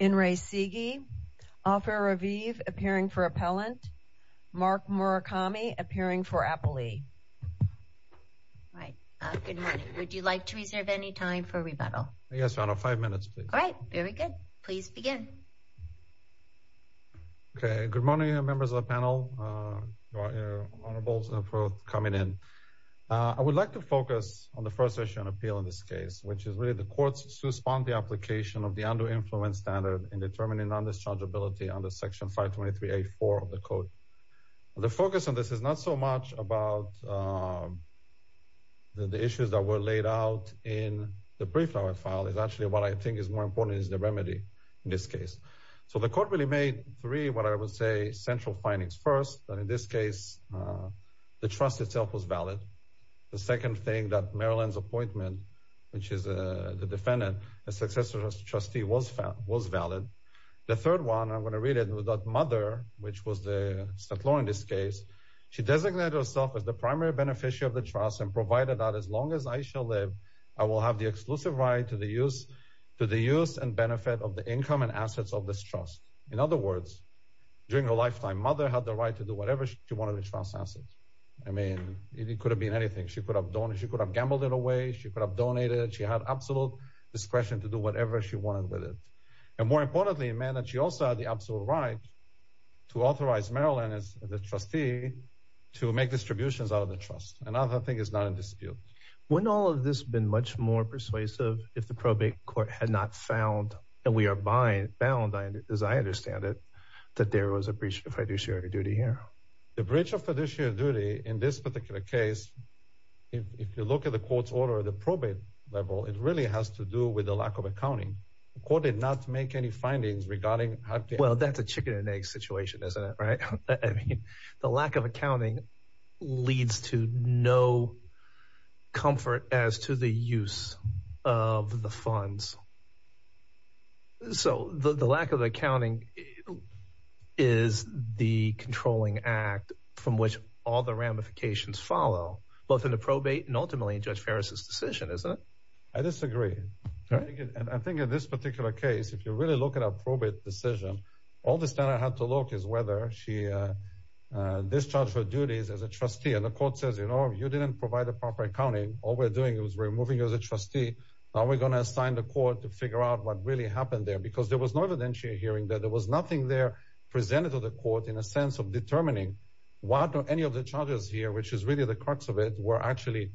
Ofer Raviv, appearing for Appellant Mark Murakami, appearing for Appellee Good morning, would you like to reserve any time for rebuttal? Yes, Your Honor. Five minutes, please. All right. Very good. Please begin. Okay. Good morning, members of the panel, Your Honorables, and for coming in. I would like to focus on the first section of the appeal in this case, which is really the court's response to the application of the under-influence standard in determining non-dischargeability under Section 523.8.4 of the Code. The focus on this is not so much about the issues that were laid out in the pre-filing file. It's actually what I think is more important is the remedy in this case. So the court really made three, what I would say, central findings. First, that in this case, the trust itself was valid. The second thing, that Marilyn's appointment, which is the defendant, a successor trustee was valid. The third one, I'm going to read it, was that Mother, which was the settlor in this case, she designated herself as the primary beneficiary of the trust and provided that as long as I shall live, I will have the exclusive right to the use and benefit of the income and assets of this trust. In other words, during her lifetime, Mother had the right to do whatever she wanted with trust assets. I mean, it could have been anything. She could have gambled it away. She could have donated. She had absolute discretion to do whatever she wanted with it. And more importantly, she also had the absolute right to authorize Marilyn, as the trustee, to make distributions out of the trust. Another thing is not in dispute. Wouldn't all of this have been much more persuasive if the probate court had not found, and we are bound, as I understand it, that there was a breach of fiduciary duty here? The breach of fiduciary duty in this particular case, if you look at the court's order at the probate level, it really has to do with the lack of accounting. The court did not make any findings regarding how to... Well, that's a chicken and egg situation, isn't it, right? I mean, the lack of accounting leads to no comfort as to the use of the funds. So, the lack of accounting is the controlling act from which all the ramifications follow, both in the probate and ultimately in Judge Ferris's decision, isn't it? I disagree. And I think in this particular case, if you really look at our probate decision, all the standard had to look is whether she discharged her duties as a trustee. And the court says, you know, you didn't provide the proper accounting. All we're doing is removing you as a trustee. Now, we're going to assign the court to figure out what really happened there because there was no evidentiary hearing, that there was nothing there presented to the court in a sense of determining what or any of the charges here, which is really the crux of it, were actually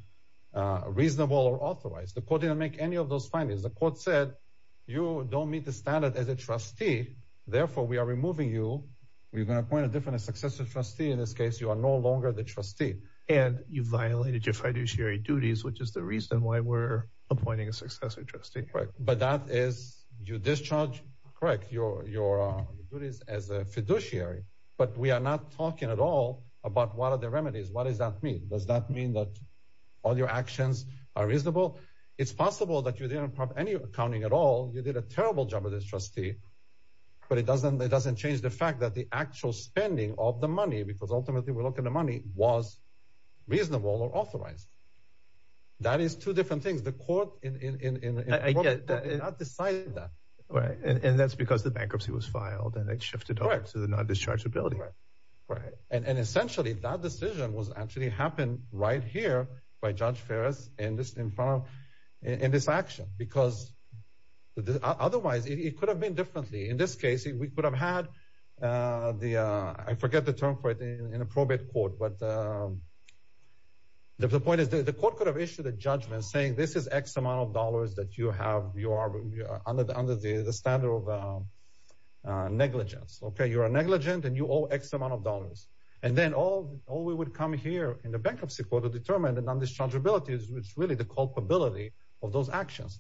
reasonable or authorized. The court didn't make any of those findings. The court said, you don't meet the standard as a trustee, therefore, we are removing you. We're going to appoint a different successor trustee in this case. You are no longer the trustee. And you violated your fiduciary duties, which is the reason why we're appointing a successor trustee. Right. But that is you discharge, correct, your duties as a fiduciary. But we are not talking at all about what are the remedies. What does that mean? Does that mean that all your actions are reasonable? It's possible that you didn't have any accounting at all. You did a terrible job of this trustee. But it doesn't it doesn't change the fact that the actual spending of the money, because reasonable or authorized. That is two different things. The court in I guess I decided that. Right. And that's because the bankruptcy was filed and it shifted over to the non-dischargeability. Right. And essentially that decision was actually happened right here by Judge Ferris in this in front of in this action, because otherwise it could have been differently. In this case, we could have had the I forget the term for it, an appropriate court. But the point is that the court could have issued a judgment saying this is X amount of dollars that you have. You are under the under the standard of negligence. OK, you are negligent and you owe X amount of dollars. And then all all we would come here in the bankruptcy court to determine the non-dischargeability is really the culpability of those actions.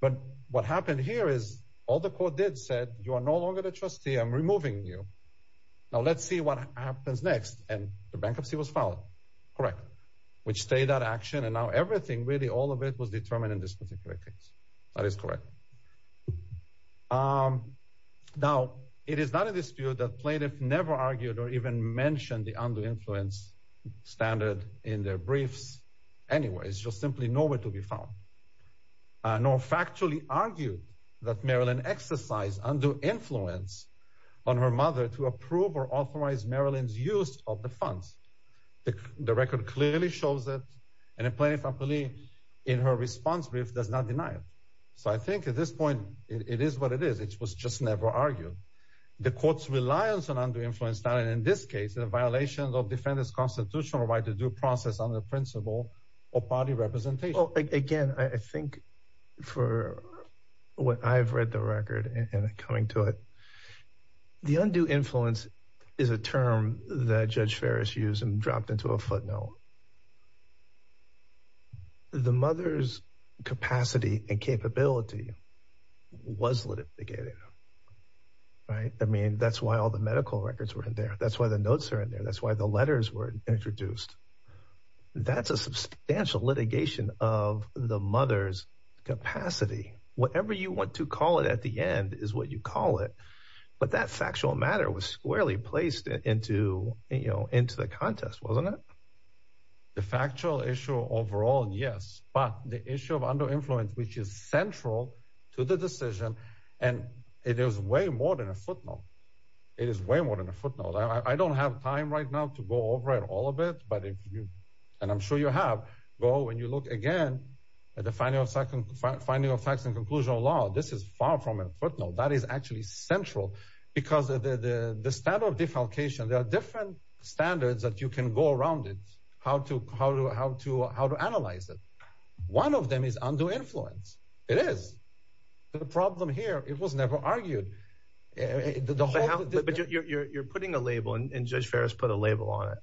But what happened here is all the court did said you are no longer the trustee. I'm removing you. Now, let's see what happens next. And the bankruptcy was filed, correct, which stayed that action. And now everything, really all of it was determined in this particular case. That is correct. Now, it is not a dispute that plaintiff never argued or even mentioned the under influence standard in their briefs. Anyway, it's just simply nowhere to be found. Nor factually argued that Marilyn exercised under influence on her mother to approve or disavow the funds. The record clearly shows that an employee in her response brief does not deny it. So I think at this point it is what it is. It was just never argued. The court's reliance on under influence standard in this case, a violation of defendants constitutional right to due process on the principle of body representation. Well, again, I think for what I've read the record and coming to it, the undue influence is a term that Judge Farris used and dropped into a footnote. The mother's capacity and capability was litigated. Right. I mean, that's why all the medical records were in there. That's why the notes are in there. That's why the letters were introduced. That's a substantial litigation of the mother's capacity. Whatever you want to call it at the end is what you call it. But that factual matter was squarely placed into, you know, into the contest, wasn't it? The factual issue overall, yes, but the issue of under influence, which is central to the decision, and it is way more than a footnote. It is way more than a footnote. I don't have time right now to go over it all a bit. But if you and I'm sure you have go and you look again at the final second finding of facts and conclusion of law, this is far from a footnote. That is actually central because of the standard of defalcation. There are different standards that you can go around it. How to how to how to how to analyze it. One of them is under influence. It is the problem here. It was never argued. But you're putting a label and Judge Farris put a label on it.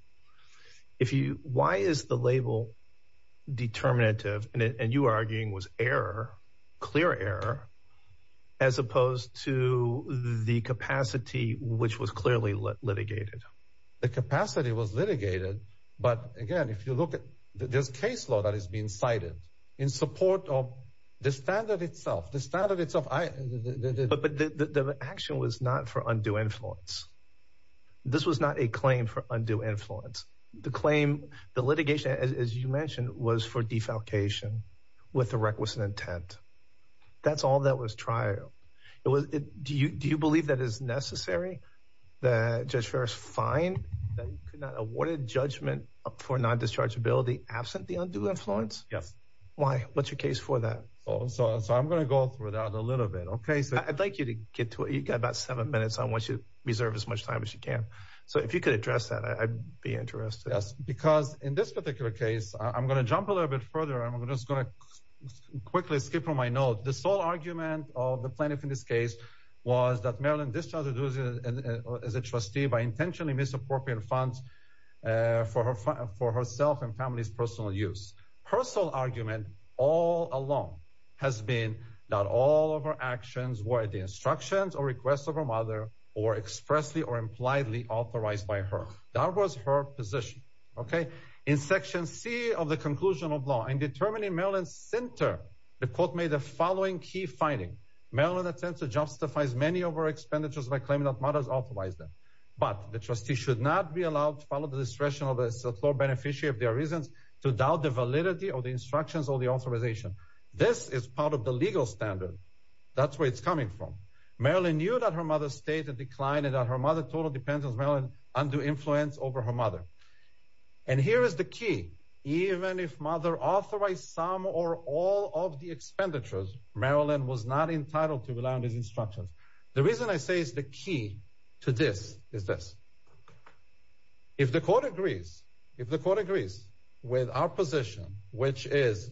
If you why is the label determinative and you are arguing was error, clear error, as opposed to the capacity which was clearly litigated, the capacity was litigated. But again, if you look at this caseload that is being cited in support of the standard itself, the standard itself, the action was not for undue influence. This was not a claim for undue influence. The claim, the litigation, as you mentioned, was for defalcation with the requisite intent. That's all that was trial. It was. Do you do you believe that is necessary that Judge Farris find that he could not award a judgment for non-dischargeability absent the undue influence? Yes. Why? What's your case for that? So I'm going to go through that a little bit. OK, so I'd like you to get to it. You've got about seven minutes. I want you to reserve as much time as you can. So if you could address that, I'd be interested. Yes, because in this particular case, I'm going to jump a little bit further. I'm just going to quickly skip on my note. The sole argument of the plaintiff in this case was that Marilyn discharged as a trustee by intentionally misappropriating funds for her for herself and family's personal use. Her sole argument all along has been that all of her actions were at the instructions or requests of her mother or expressly or impliedly authorized by her. That was her position. OK, in Section C of the conclusion of law and determining Maryland's center, the following key finding Maryland attempts to justify as many of our expenditures by claiming that mothers authorize them. But the trustee should not be allowed to follow the discretion of the floor beneficiary if there are reasons to doubt the validity of the instructions or the authorization. This is part of the legal standard. That's where it's coming from. Marilyn knew that her mother stayed in decline and that her mother totally depends on Marilyn's undue influence over her mother. And here is the key. Even if mother authorized some or all of the expenditures, Marilyn was not entitled to rely on his instructions. The reason I say is the key to this is this. If the court agrees, if the court agrees with our position, which is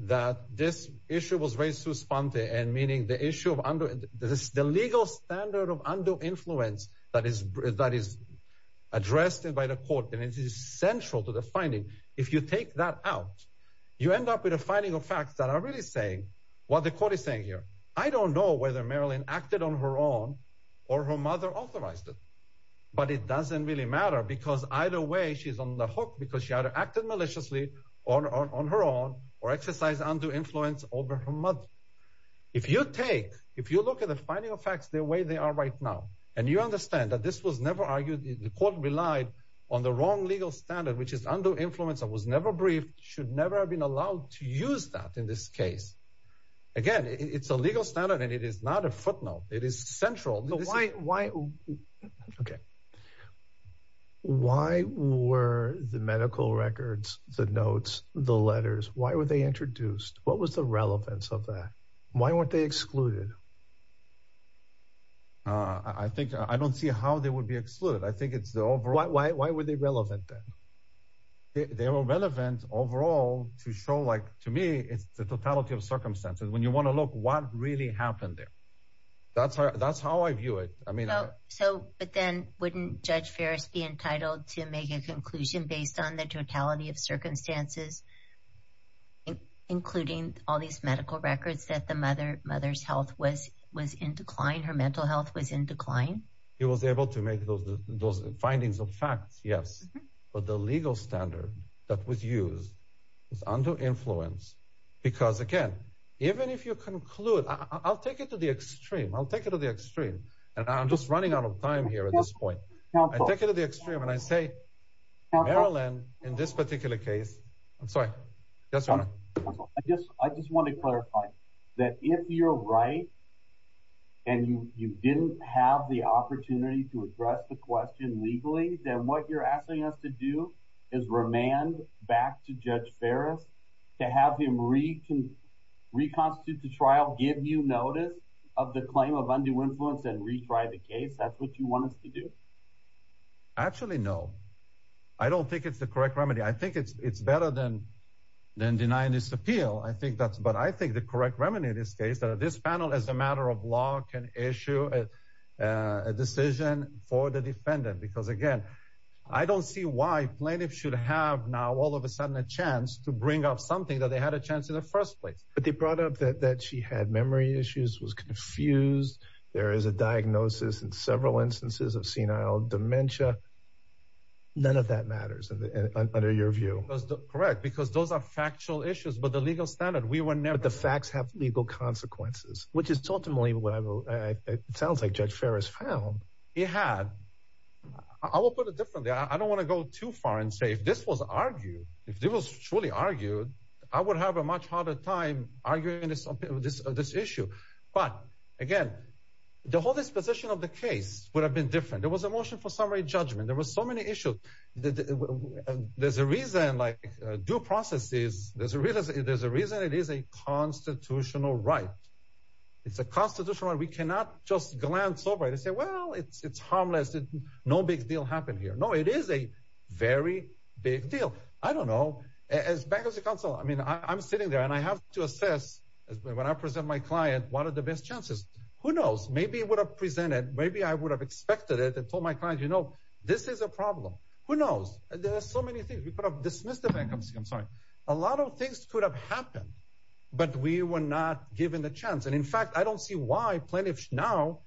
that this issue was raised through Sponte and meaning the issue of the legal standard of undue influence, that is that is addressed by the court. And it is central to the finding. If you take that out, you end up with a finding of facts that are really saying what the court is saying here. I don't know whether Marilyn acted on her own or her mother authorized it, but it doesn't really matter because either way, she's on the hook because she either acted maliciously on her own or exercised undue influence over her mother. If you take if you look at the finding of facts the way they are right now, and you understand that this was never argued, the court relied on the wrong legal standard, which is undue influence that was never briefed, should never have been allowed to use that in this case. Again, it's a legal standard and it is not a footnote. It is central. So why why? OK. Why were the medical records, the notes, the letters, why were they introduced? What was the relevance of that? Why weren't they excluded? I think I don't see how they would be excluded. I think it's the overall. Why? Why were they relevant? They were relevant overall to show, like to me, it's the totality of circumstances when you want to look what really happened there. That's how that's how I view it. I mean, so but then wouldn't Judge Ferris be entitled to make a conclusion based on the totality of circumstances, including all these medical records that the mother mother's health was was in decline, her mental health was in decline. He was able to make those those findings of facts. Yes. But the legal standard that was used was under influence because, again, even if you conclude, I'll take it to the extreme, I'll take it to the extreme. And I'm just running out of time here at this point. I take it to the extreme and I say, Marilyn, in this particular case, I'm sorry. That's all I guess I just want to clarify that if you're right. And you didn't have the opportunity to address the question legally, then what you're asking us to do is remand back to Judge Ferris to have him read to reconstitute the trial, give you notice of the claim of undue influence and retry the case. That's what you want us to do. Actually, no, I don't think it's the correct remedy. I think it's better than than denying this appeal. I think that's what I think the correct remedy in this case, that this panel, as a matter of law, can issue a decision for the defendant, because, again, I don't see why plaintiffs should have now all of a sudden a chance to bring up something that they had a chance in the first place. But they brought up that she had memory issues, was confused. There is a diagnosis in several instances of senile dementia. None of that matters under your view, correct, because those are factual issues. But the legal standard we were never the facts have legal consequences, which is ultimately what it sounds like. Judge Ferris found he had I will put it differently. I don't want to go too far and say if this was argued, if it was truly argued, I would have a much harder time arguing this on this issue. But again, the whole disposition of the case would have been different. There was a motion for summary judgment. There was so many issues that there's a reason like due processes. There's a real there's a reason it is a constitutional right. It's a constitutional right. We cannot just glance over it and say, well, it's harmless. No big deal happened here. No, it is a very big deal. I don't know as bankers of counsel. I mean, I'm sitting there and I have to assess when I present my client, what are the best chances? Who knows? Maybe it would have presented. Maybe I would have expected it and told my client, you know, this is a problem. Who knows? There are so many things we could have dismissed the bankruptcy. I'm sorry. A lot of things could have happened, but we were not given the chance. And in fact, I don't see why plenty of now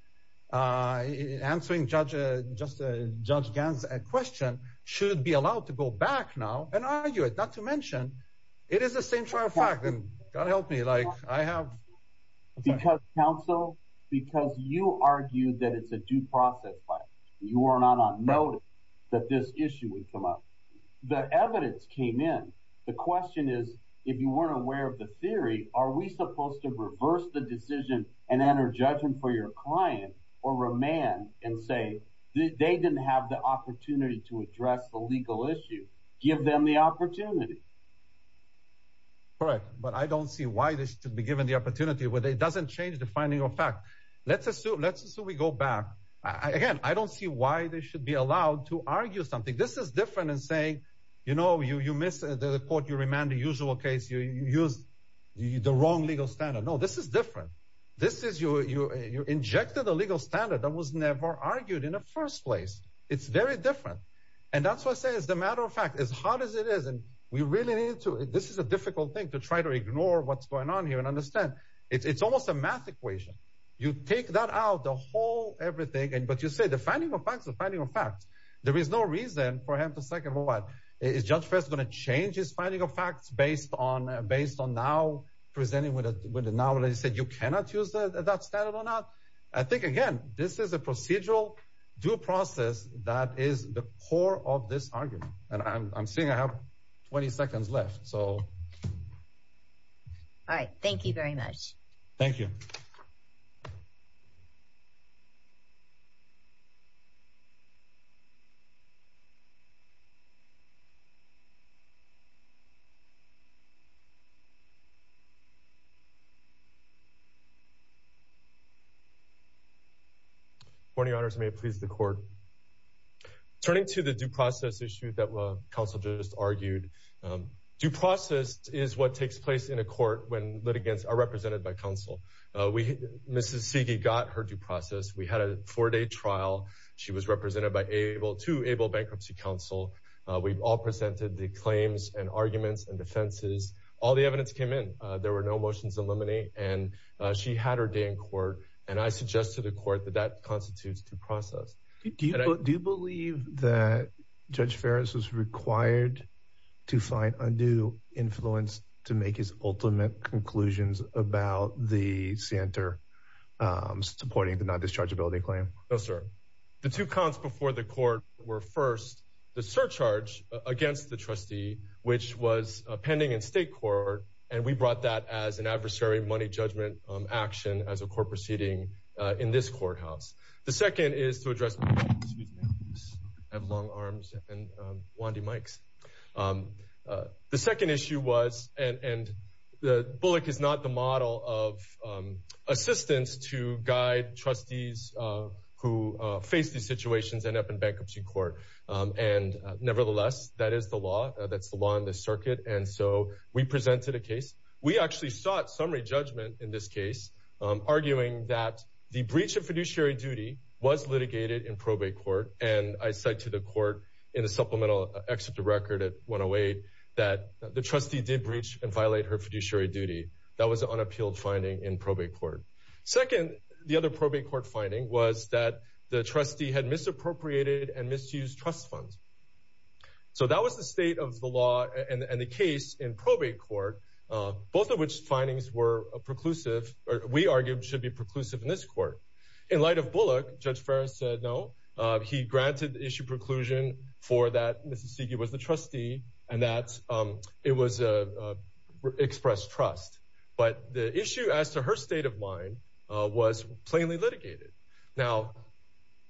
answering judge just Judge Gans question should be allowed to go back now and argue it, not to mention it is the same trial that helped me like I have because counsel, because you argue that it's a due process by you are not on note that this issue would come up. The evidence came in. The question is, if you weren't aware of the theory, are we supposed to reverse the decision and enter judgment for your client or remand and say they didn't have the opportunity to address the legal issue? Give them the opportunity. Correct, but I don't see why this should be given the opportunity where it doesn't change the finding of fact, let's assume, let's assume we go back again, I don't see why they should be allowed to argue something. This is different than saying, you know, you miss the court, you remand the usual case, you use the wrong legal standard. No, this is different. This is you. You injected a legal standard that was never argued in the first place. It's very different. And that's why I say, as a matter of fact, as hard as it is, and we really need to this is a difficult thing to try to ignore what's going on here and understand it's almost a math equation. You take that out, the whole everything. And but you say the finding of facts, the finding of facts, there is no reason for him to second what is just first going to change his finding of facts based on based on now presenting with it now. And I said, you cannot use that standard or not. I think, again, this is a procedural due process that is the core of this argument. And I'm seeing I have 20 seconds left, so. All right, thank you very much. Thank you. Morning, honors, may it please the court. Turning to the due process issue that counsel just argued, due process is what takes place in a court when litigants are represented by counsel. We see he got her due process. We had a four day trial. She was represented by able to able Bankruptcy Council. We've all presented the claims and arguments and defenses. All the evidence came in. There were no motions eliminate. And she had her day in court. And I suggest to the court that that constitutes due process. Do you believe that Judge Ferris was required to find undue influence to make his ultimate conclusions about the center supporting the non-dischargeability claim? No, sir. The two counts before the court were first the surcharge against the trustee, which was pending in state court. And we brought that as an adversary money judgment action as a court proceeding in this courthouse. The second is to address. Excuse me, I have long arms and wandy mics. The second issue was and the Bullock is not the model of assistance to guide trustees who face these situations and up in bankruptcy court. And nevertheless, that is the law. That's the law in the circuit. And so we presented a case. We actually sought summary judgment in this case, arguing that the breach of fiduciary duty was litigated in probate court. And I said to the court in a supplemental exit to record at 108 that the trustee did breach and violate her fiduciary duty. That was an unappealed finding in probate court. Second, the other probate court finding was that the trustee had misappropriated and misused trust funds. So that was the state of the law and the case in probate court, both of which findings were a preclusive or we argued should be preclusive in this court. In light of Bullock, Judge Ferris said no. He granted the issue preclusion for that. Mrs. Sigi was the trustee and that it was expressed trust. But the issue as to her state of mind was plainly litigated. Now,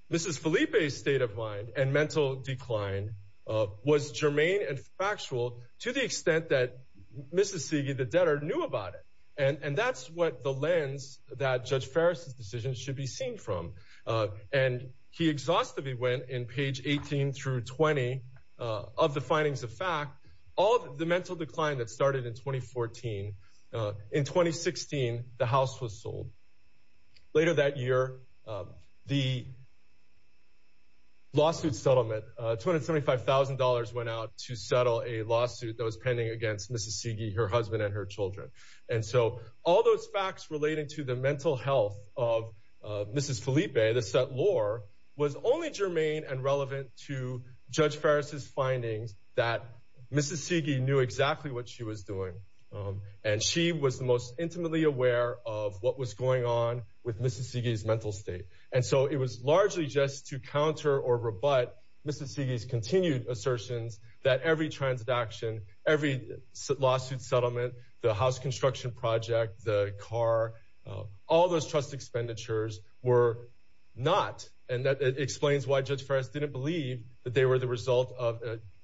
this is Felipe's state of mind and mental decline was germane and factual to the extent that Mrs. Sigi, the debtor, knew about it. And that's what the lens that Judge Ferris's decision should be seen from. And he exhaustively went in page 18 through 20 of the findings of fact, all the mental decline that started in 2014. In 2016, the House was sold. Later that year, the lawsuit settlement, $275,000 went out to settle a lawsuit that was pending against Mrs. Sigi, her husband and her children. And so all those facts relating to the mental health of Mrs. Felipe, the set law was only germane and relevant to Judge Ferris's findings that Mrs. Sigi knew exactly what she was doing. And she was the most intimately aware of what was going on with Mrs. Sigi's mental state. And so it was largely just to counter or rebut Mrs. Sigi's continued assertions that every transaction, every lawsuit settlement, the house construction project, the car, all those trust expenditures were not. And that explains why Judge Ferris didn't believe that they were the result of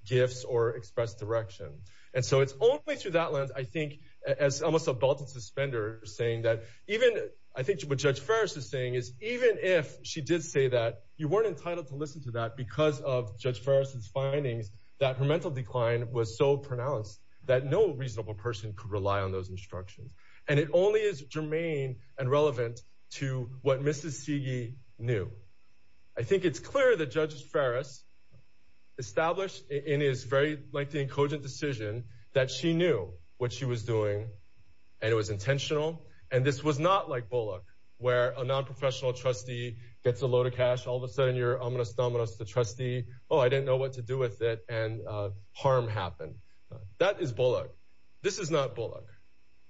gifts or express direction. And so it's only through that lens, I think, as almost a belt and suspender saying that even I think what Judge Ferris is saying is even if she did say that, you weren't entitled to listen to that because of Judge Ferris's findings that her mental decline was so those instructions. And it only is germane and relevant to what Mrs. Sigi knew. I think it's clear that Judge Ferris established in his very lengthy and cogent decision that she knew what she was doing and it was intentional. And this was not like Bullock, where a nonprofessional trustee gets a load of cash. All of a sudden you're ominous, dominoes the trustee. Oh, I didn't know what to do with it. And harm happened. That is Bullock. This is not Bullock.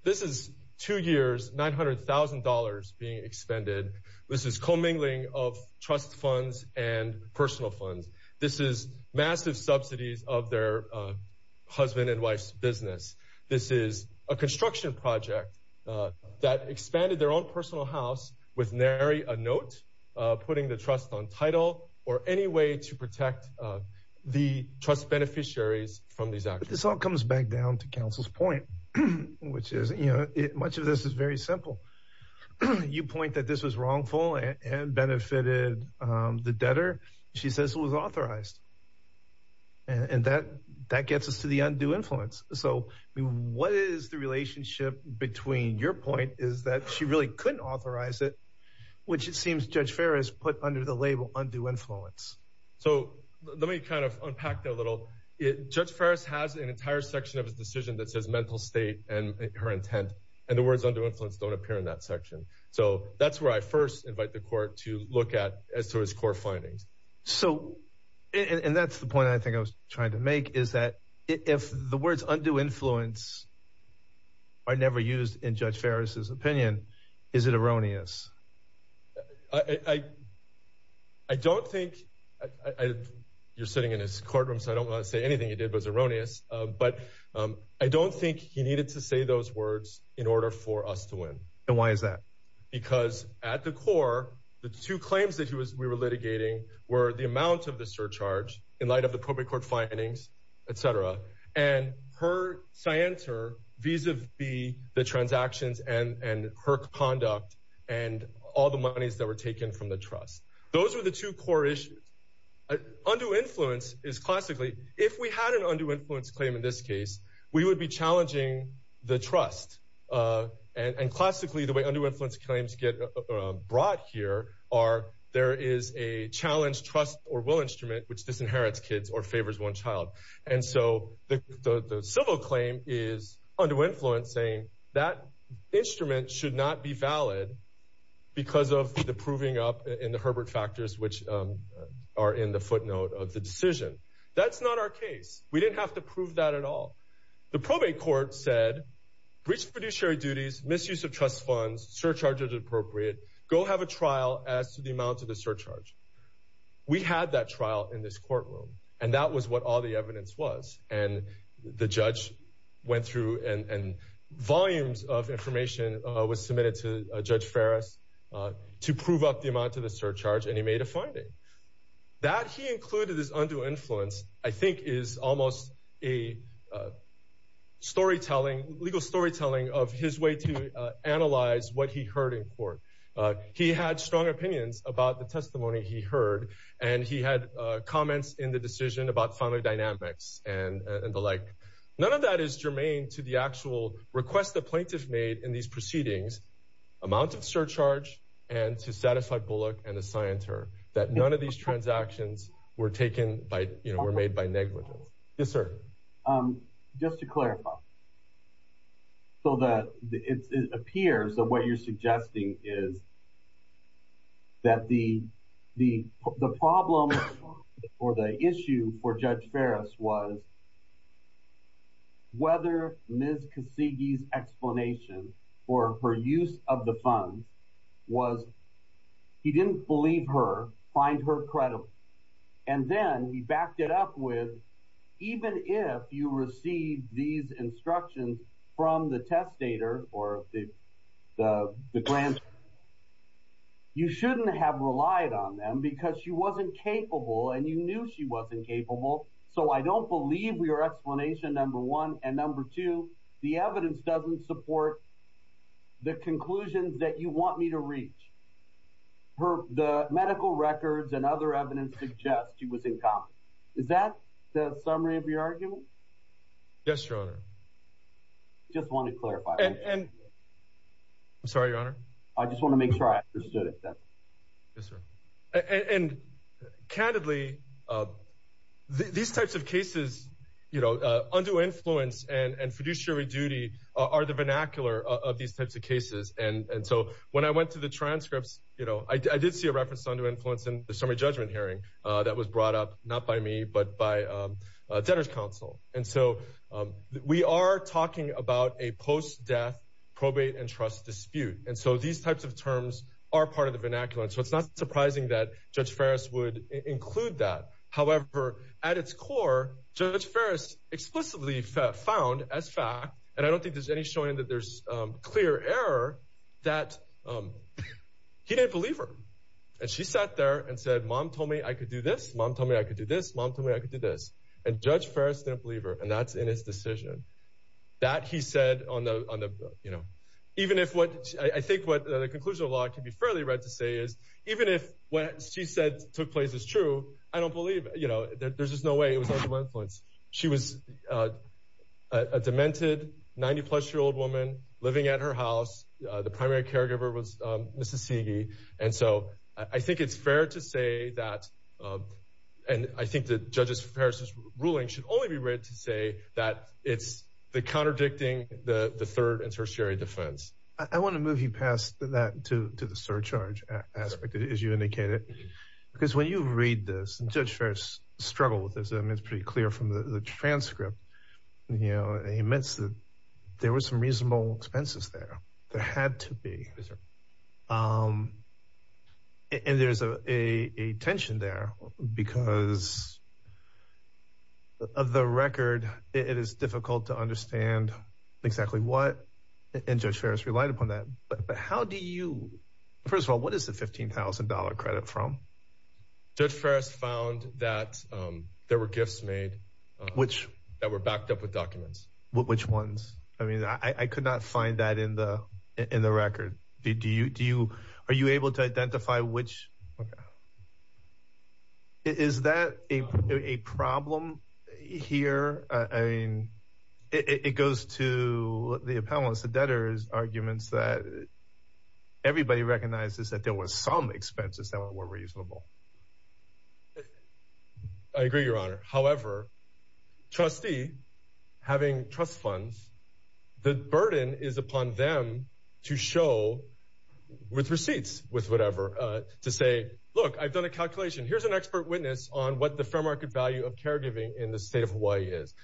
This is two years, nine hundred thousand dollars being expended. This is commingling of trust funds and personal funds. This is massive subsidies of their husband and wife's business. This is a construction project that expanded their own personal house with Mary, a note putting the trust on title or any way to protect the trust beneficiaries from these This all comes back down to counsel's point, which is, you know, much of this is very simple. You point that this was wrongful and benefited the debtor. She says it was authorized. And that that gets us to the undue influence. So what is the relationship between your point is that she really couldn't authorize it, which it seems Judge Ferris put under the label undue influence. So let me kind of unpack that a little. Judge Ferris has an entire section of his decision that says mental state and her intent. And the words undue influence don't appear in that section. So that's where I first invite the court to look at as to his core findings. So and that's the point I think I was trying to make, is that if the words undue influence. I never used in Judge Ferris's opinion, is it erroneous? I don't think you're sitting in his courtroom, so I don't want to say anything he did was erroneous. But I don't think he needed to say those words in order for us to win. And why is that? Because at the core, the two claims that he was we were litigating were the amount of the surcharge in light of the probate court findings, etc. And her scienter vis-a-vis the transactions and her conduct and all the monies that were taken from the trust. Those were the two core issues. Undue influence is classically if we had an undue influence claim in this case, we would be challenging the trust. And classically, the way undue influence claims get brought here are there is a challenge, trust or will instrument which disinherits kids or favors one child. And so the civil claim is undue influence saying that instrument should not be valid because of the proving up in the Herbert factors which are in the footnote of the decision. That's not our case. We didn't have to prove that at all. The probate court said breached fiduciary duties, misuse of trust funds, surcharge as appropriate. Go have a trial as to the amount of the surcharge. We had that trial in this courtroom, and that was what all the evidence was. And the judge went through and volumes of information was submitted to Judge Ferris to prove up the amount of the surcharge. And he made a finding that he included his undue influence, I think, is almost a storytelling, legal storytelling of his way to analyze what he heard in court. He had strong opinions about the testimony he heard, and he had comments in the decision about family dynamics and the like. None of that is germane to the actual request the plaintiff made in these proceedings, amount of surcharge and to satisfy Bullock and assigned her that none of these transactions were taken by, you know, were made by negligence. Yes, sir. Just to clarify. So that it appears that what you're suggesting is. That the the the problem or the issue for Judge Ferris was. Whether Ms. Cassidy's explanation for her use of the funds was he didn't believe her, find her credible, and then he backed it up with even if you receive these instructions from the testator or the the the grant. You shouldn't have relied on them because she wasn't capable and you knew she wasn't capable, so I don't believe your explanation number one and number two, the evidence doesn't support. The conclusions that you want me to reach. Her the medical records and other evidence suggest he was in common. Is that the summary of your argument? Yes, your honor. I'm sorry, your honor. I just want to make sure I understood it that. Yes, sir, and candidly. These types of cases, you know, under influence and and fiduciary duty are the vernacular of these types of cases, and so, when I went to the transcripts, you know I did see a reference on to influence in the summary judgment hearing that was brought up, not by me, but by. Counsel, and so we are talking about a post death probate and trust dispute, and so these types of terms are part of the vernacular, so it's not surprising that judge Ferris would include that, however, at its core, so that's first explicitly found as fact, and I don't think there's any showing that there's clear error that. He didn't believe her and she sat there and said mom told me I could do this mom told me I could do this mom told me I could do this and judge Ferris didn't believe her and that's in his decision that he said on the on the you know, even if what I think what the conclusion of law can be fairly right to say is even if what she said took place is true, I don't believe you know there's just no way it was under my influence she was. A demented 90 plus year old woman living at her house, the primary caregiver was Mississippi, and so I think it's fair to say that. And I think the judges Paris's ruling should only be read to say that it's the contradicting the the third and tertiary Defense, I want to move you past that to the surcharge aspect, as you indicated. Because when you read this and judge first struggle with this and it's pretty clear from the transcript, you know, he meant that there was some reasonable expenses there there had to be. And there's a tension there because. Of the record, it is difficult to understand exactly what and judge Ferris relied upon that, but how do you first of all, what is the $15,000 credit from the first found that there were gifts made which that were backed up with documents, which ones, I mean, I could not find that in the in the record, did you do you are you able to identify which. Okay. Is that a problem here, I mean it goes to the appellants the debtors arguments that. Everybody recognizes that there was some expenses that were reasonable. I agree, your Honor, however. Trustee having trust funds the burden is upon them to show with receipts with whatever to say look i've done a calculation here's an expert witness on what the fair market value of caregiving in the state of Hawaii is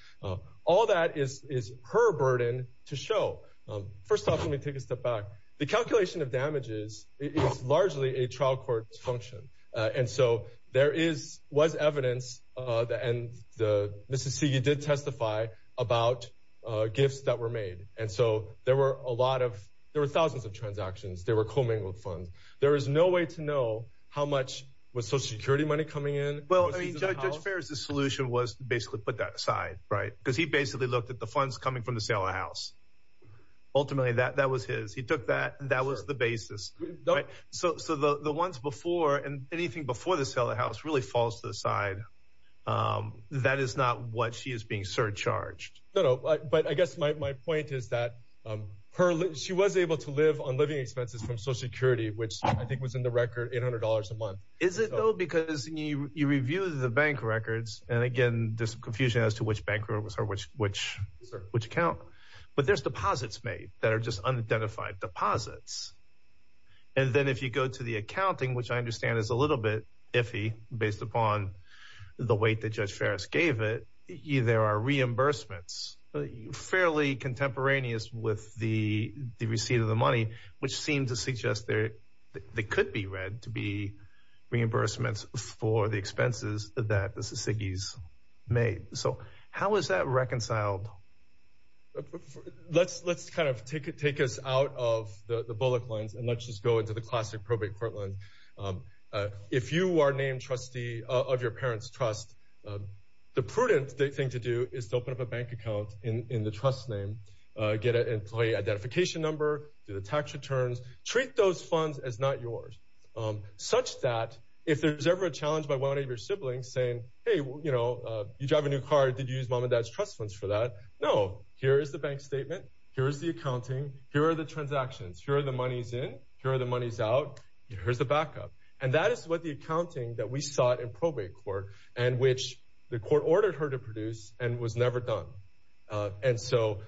all that is her burden to show. First off, let me take a step back the calculation of damages is largely a trial court function, and so there is was evidence that and the Mississippi you did testify about gifts that were made, and so there were a lot of there were thousands of transactions, they were commingled funds, there is no way to know how much was social security money coming in. Well, I mean judge Ferris the solution was basically put that aside right because he basically looked at the funds coming from the sale of the House. Ultimately, that that was his he took that that was the basis, so the ones before and anything before the sale of the House really falls to the side. That is not what she is being surcharged. No, but I guess my point is that her she was able to live on living expenses from social security, which I think was in the record $800 a month. Is it though, because you you review the bank records and again this confusion as to which banker was her which which which account, but there's deposits made that are just unidentified deposits. And then, if you go to the accounting, which I understand is a little bit iffy based upon the weight that judge Ferris gave it either are reimbursements fairly contemporaneous with the receipt of the money, which seems to suggest there. They could be read to be reimbursements for the expenses that the Sissiggis made, so how is that reconciled? Let's let's kind of take it take us out of the bullet lines and let's just go into the classic probate courtland. If you are named trustee of your parents trust the prudent thing to do is to open up a bank account in the trust name. Get an employee identification number to the tax returns treat those funds as not yours. Such that if there's ever a challenge by one of your siblings saying hey you know you drive a new car did use mom and dad's trust funds for that no here is the bank statement. Here is the accounting here are the transactions here are the monies in here are the monies out here's the backup, and that is what the accounting that we saw it in probate court and which the court ordered her to produce and was never done. And so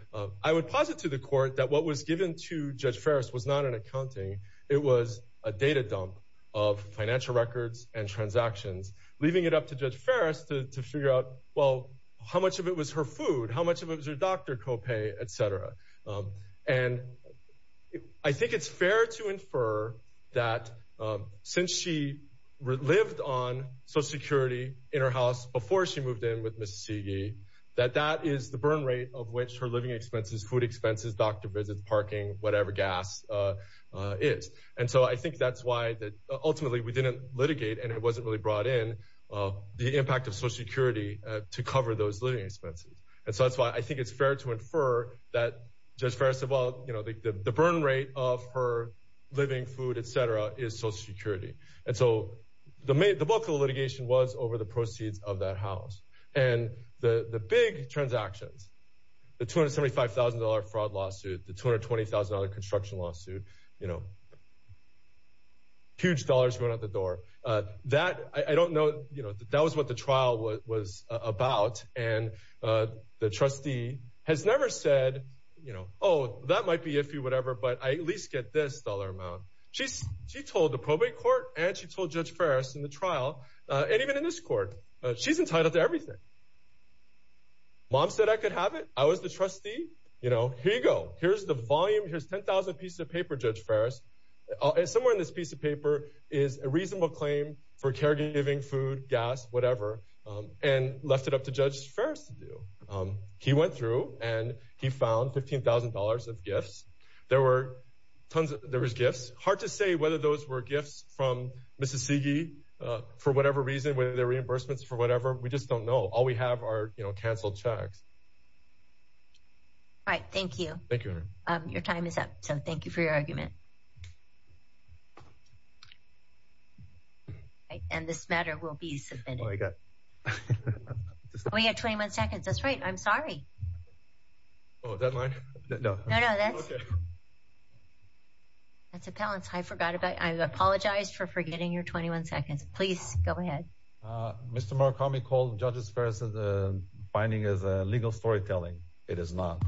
I would posit to the court that what was given to judge first was not an accounting, it was a data dump of financial records and transactions, leaving it up to judge first to figure out well how much of it was her food, how much of it was your doctor copay etc. And I think it's fair to infer that since she lived on social security in her house before she moved in with Miss Sigi that that is the burn rate of which her living expenses food expenses doctor visits parking whatever gas is, and so I think that's why that ultimately we didn't litigate and it wasn't really brought in the impact of social security to cover those living expenses and so that's why I think it's fair to infer that. Just first of all you know the burn rate of her living food etc. is social security and so the book of litigation was over the proceeds of that house and the big transactions the $275,000 fraud lawsuit the $220,000 construction lawsuit you know. Huge dollars going out the door that I don't know you know that that was what the trial was about and the trustee has never said you know oh that might be if you whatever but I at least get this dollar amount she's she told the probate court and she told judge first in the trial and even in this court she's entitled to everything. Mom said I could have it I was the trustee you know here you go here's the volume here's 10,000 pieces of paper judge Ferris. Somewhere in this piece of paper is a reasonable claim for caregiving food gas whatever and left it up to judge first do he went through and he found $15,000 of gifts there were tons of there was gifts hard to say whether those were gifts from Mrs. Sigi for whatever reason whether they're reimbursements for whatever we just don't know all we have are you know canceled checks. All right thank you thank you your time is up so thank you for your argument. Right and this matter will be submitted. We got 21 seconds that's right I'm sorry. Oh deadline no no no that's okay. That's a balance I forgot about I've apologized for forgetting your 21 seconds please go ahead. Mr. Murakami called judges first of the finding is a legal storytelling it is not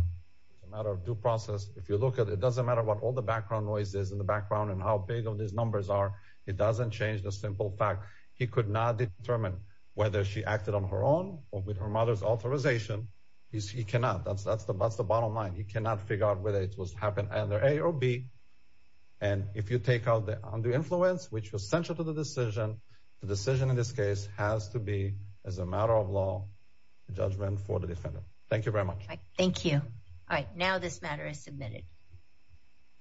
a matter of due process if you look at it doesn't matter what all the background noise is in the background and how big of these numbers are it doesn't change the simple fact he could not determine whether she acted on her own or with her mother's authorization is he cannot that's that's the that's the bottom line he cannot figure out whether it was happen either a or b and if you take out the under influence which was central to the decision the decision in this case has to be as a matter of law judgment for the defendant thank you very much thank you all right now this matter is submitted.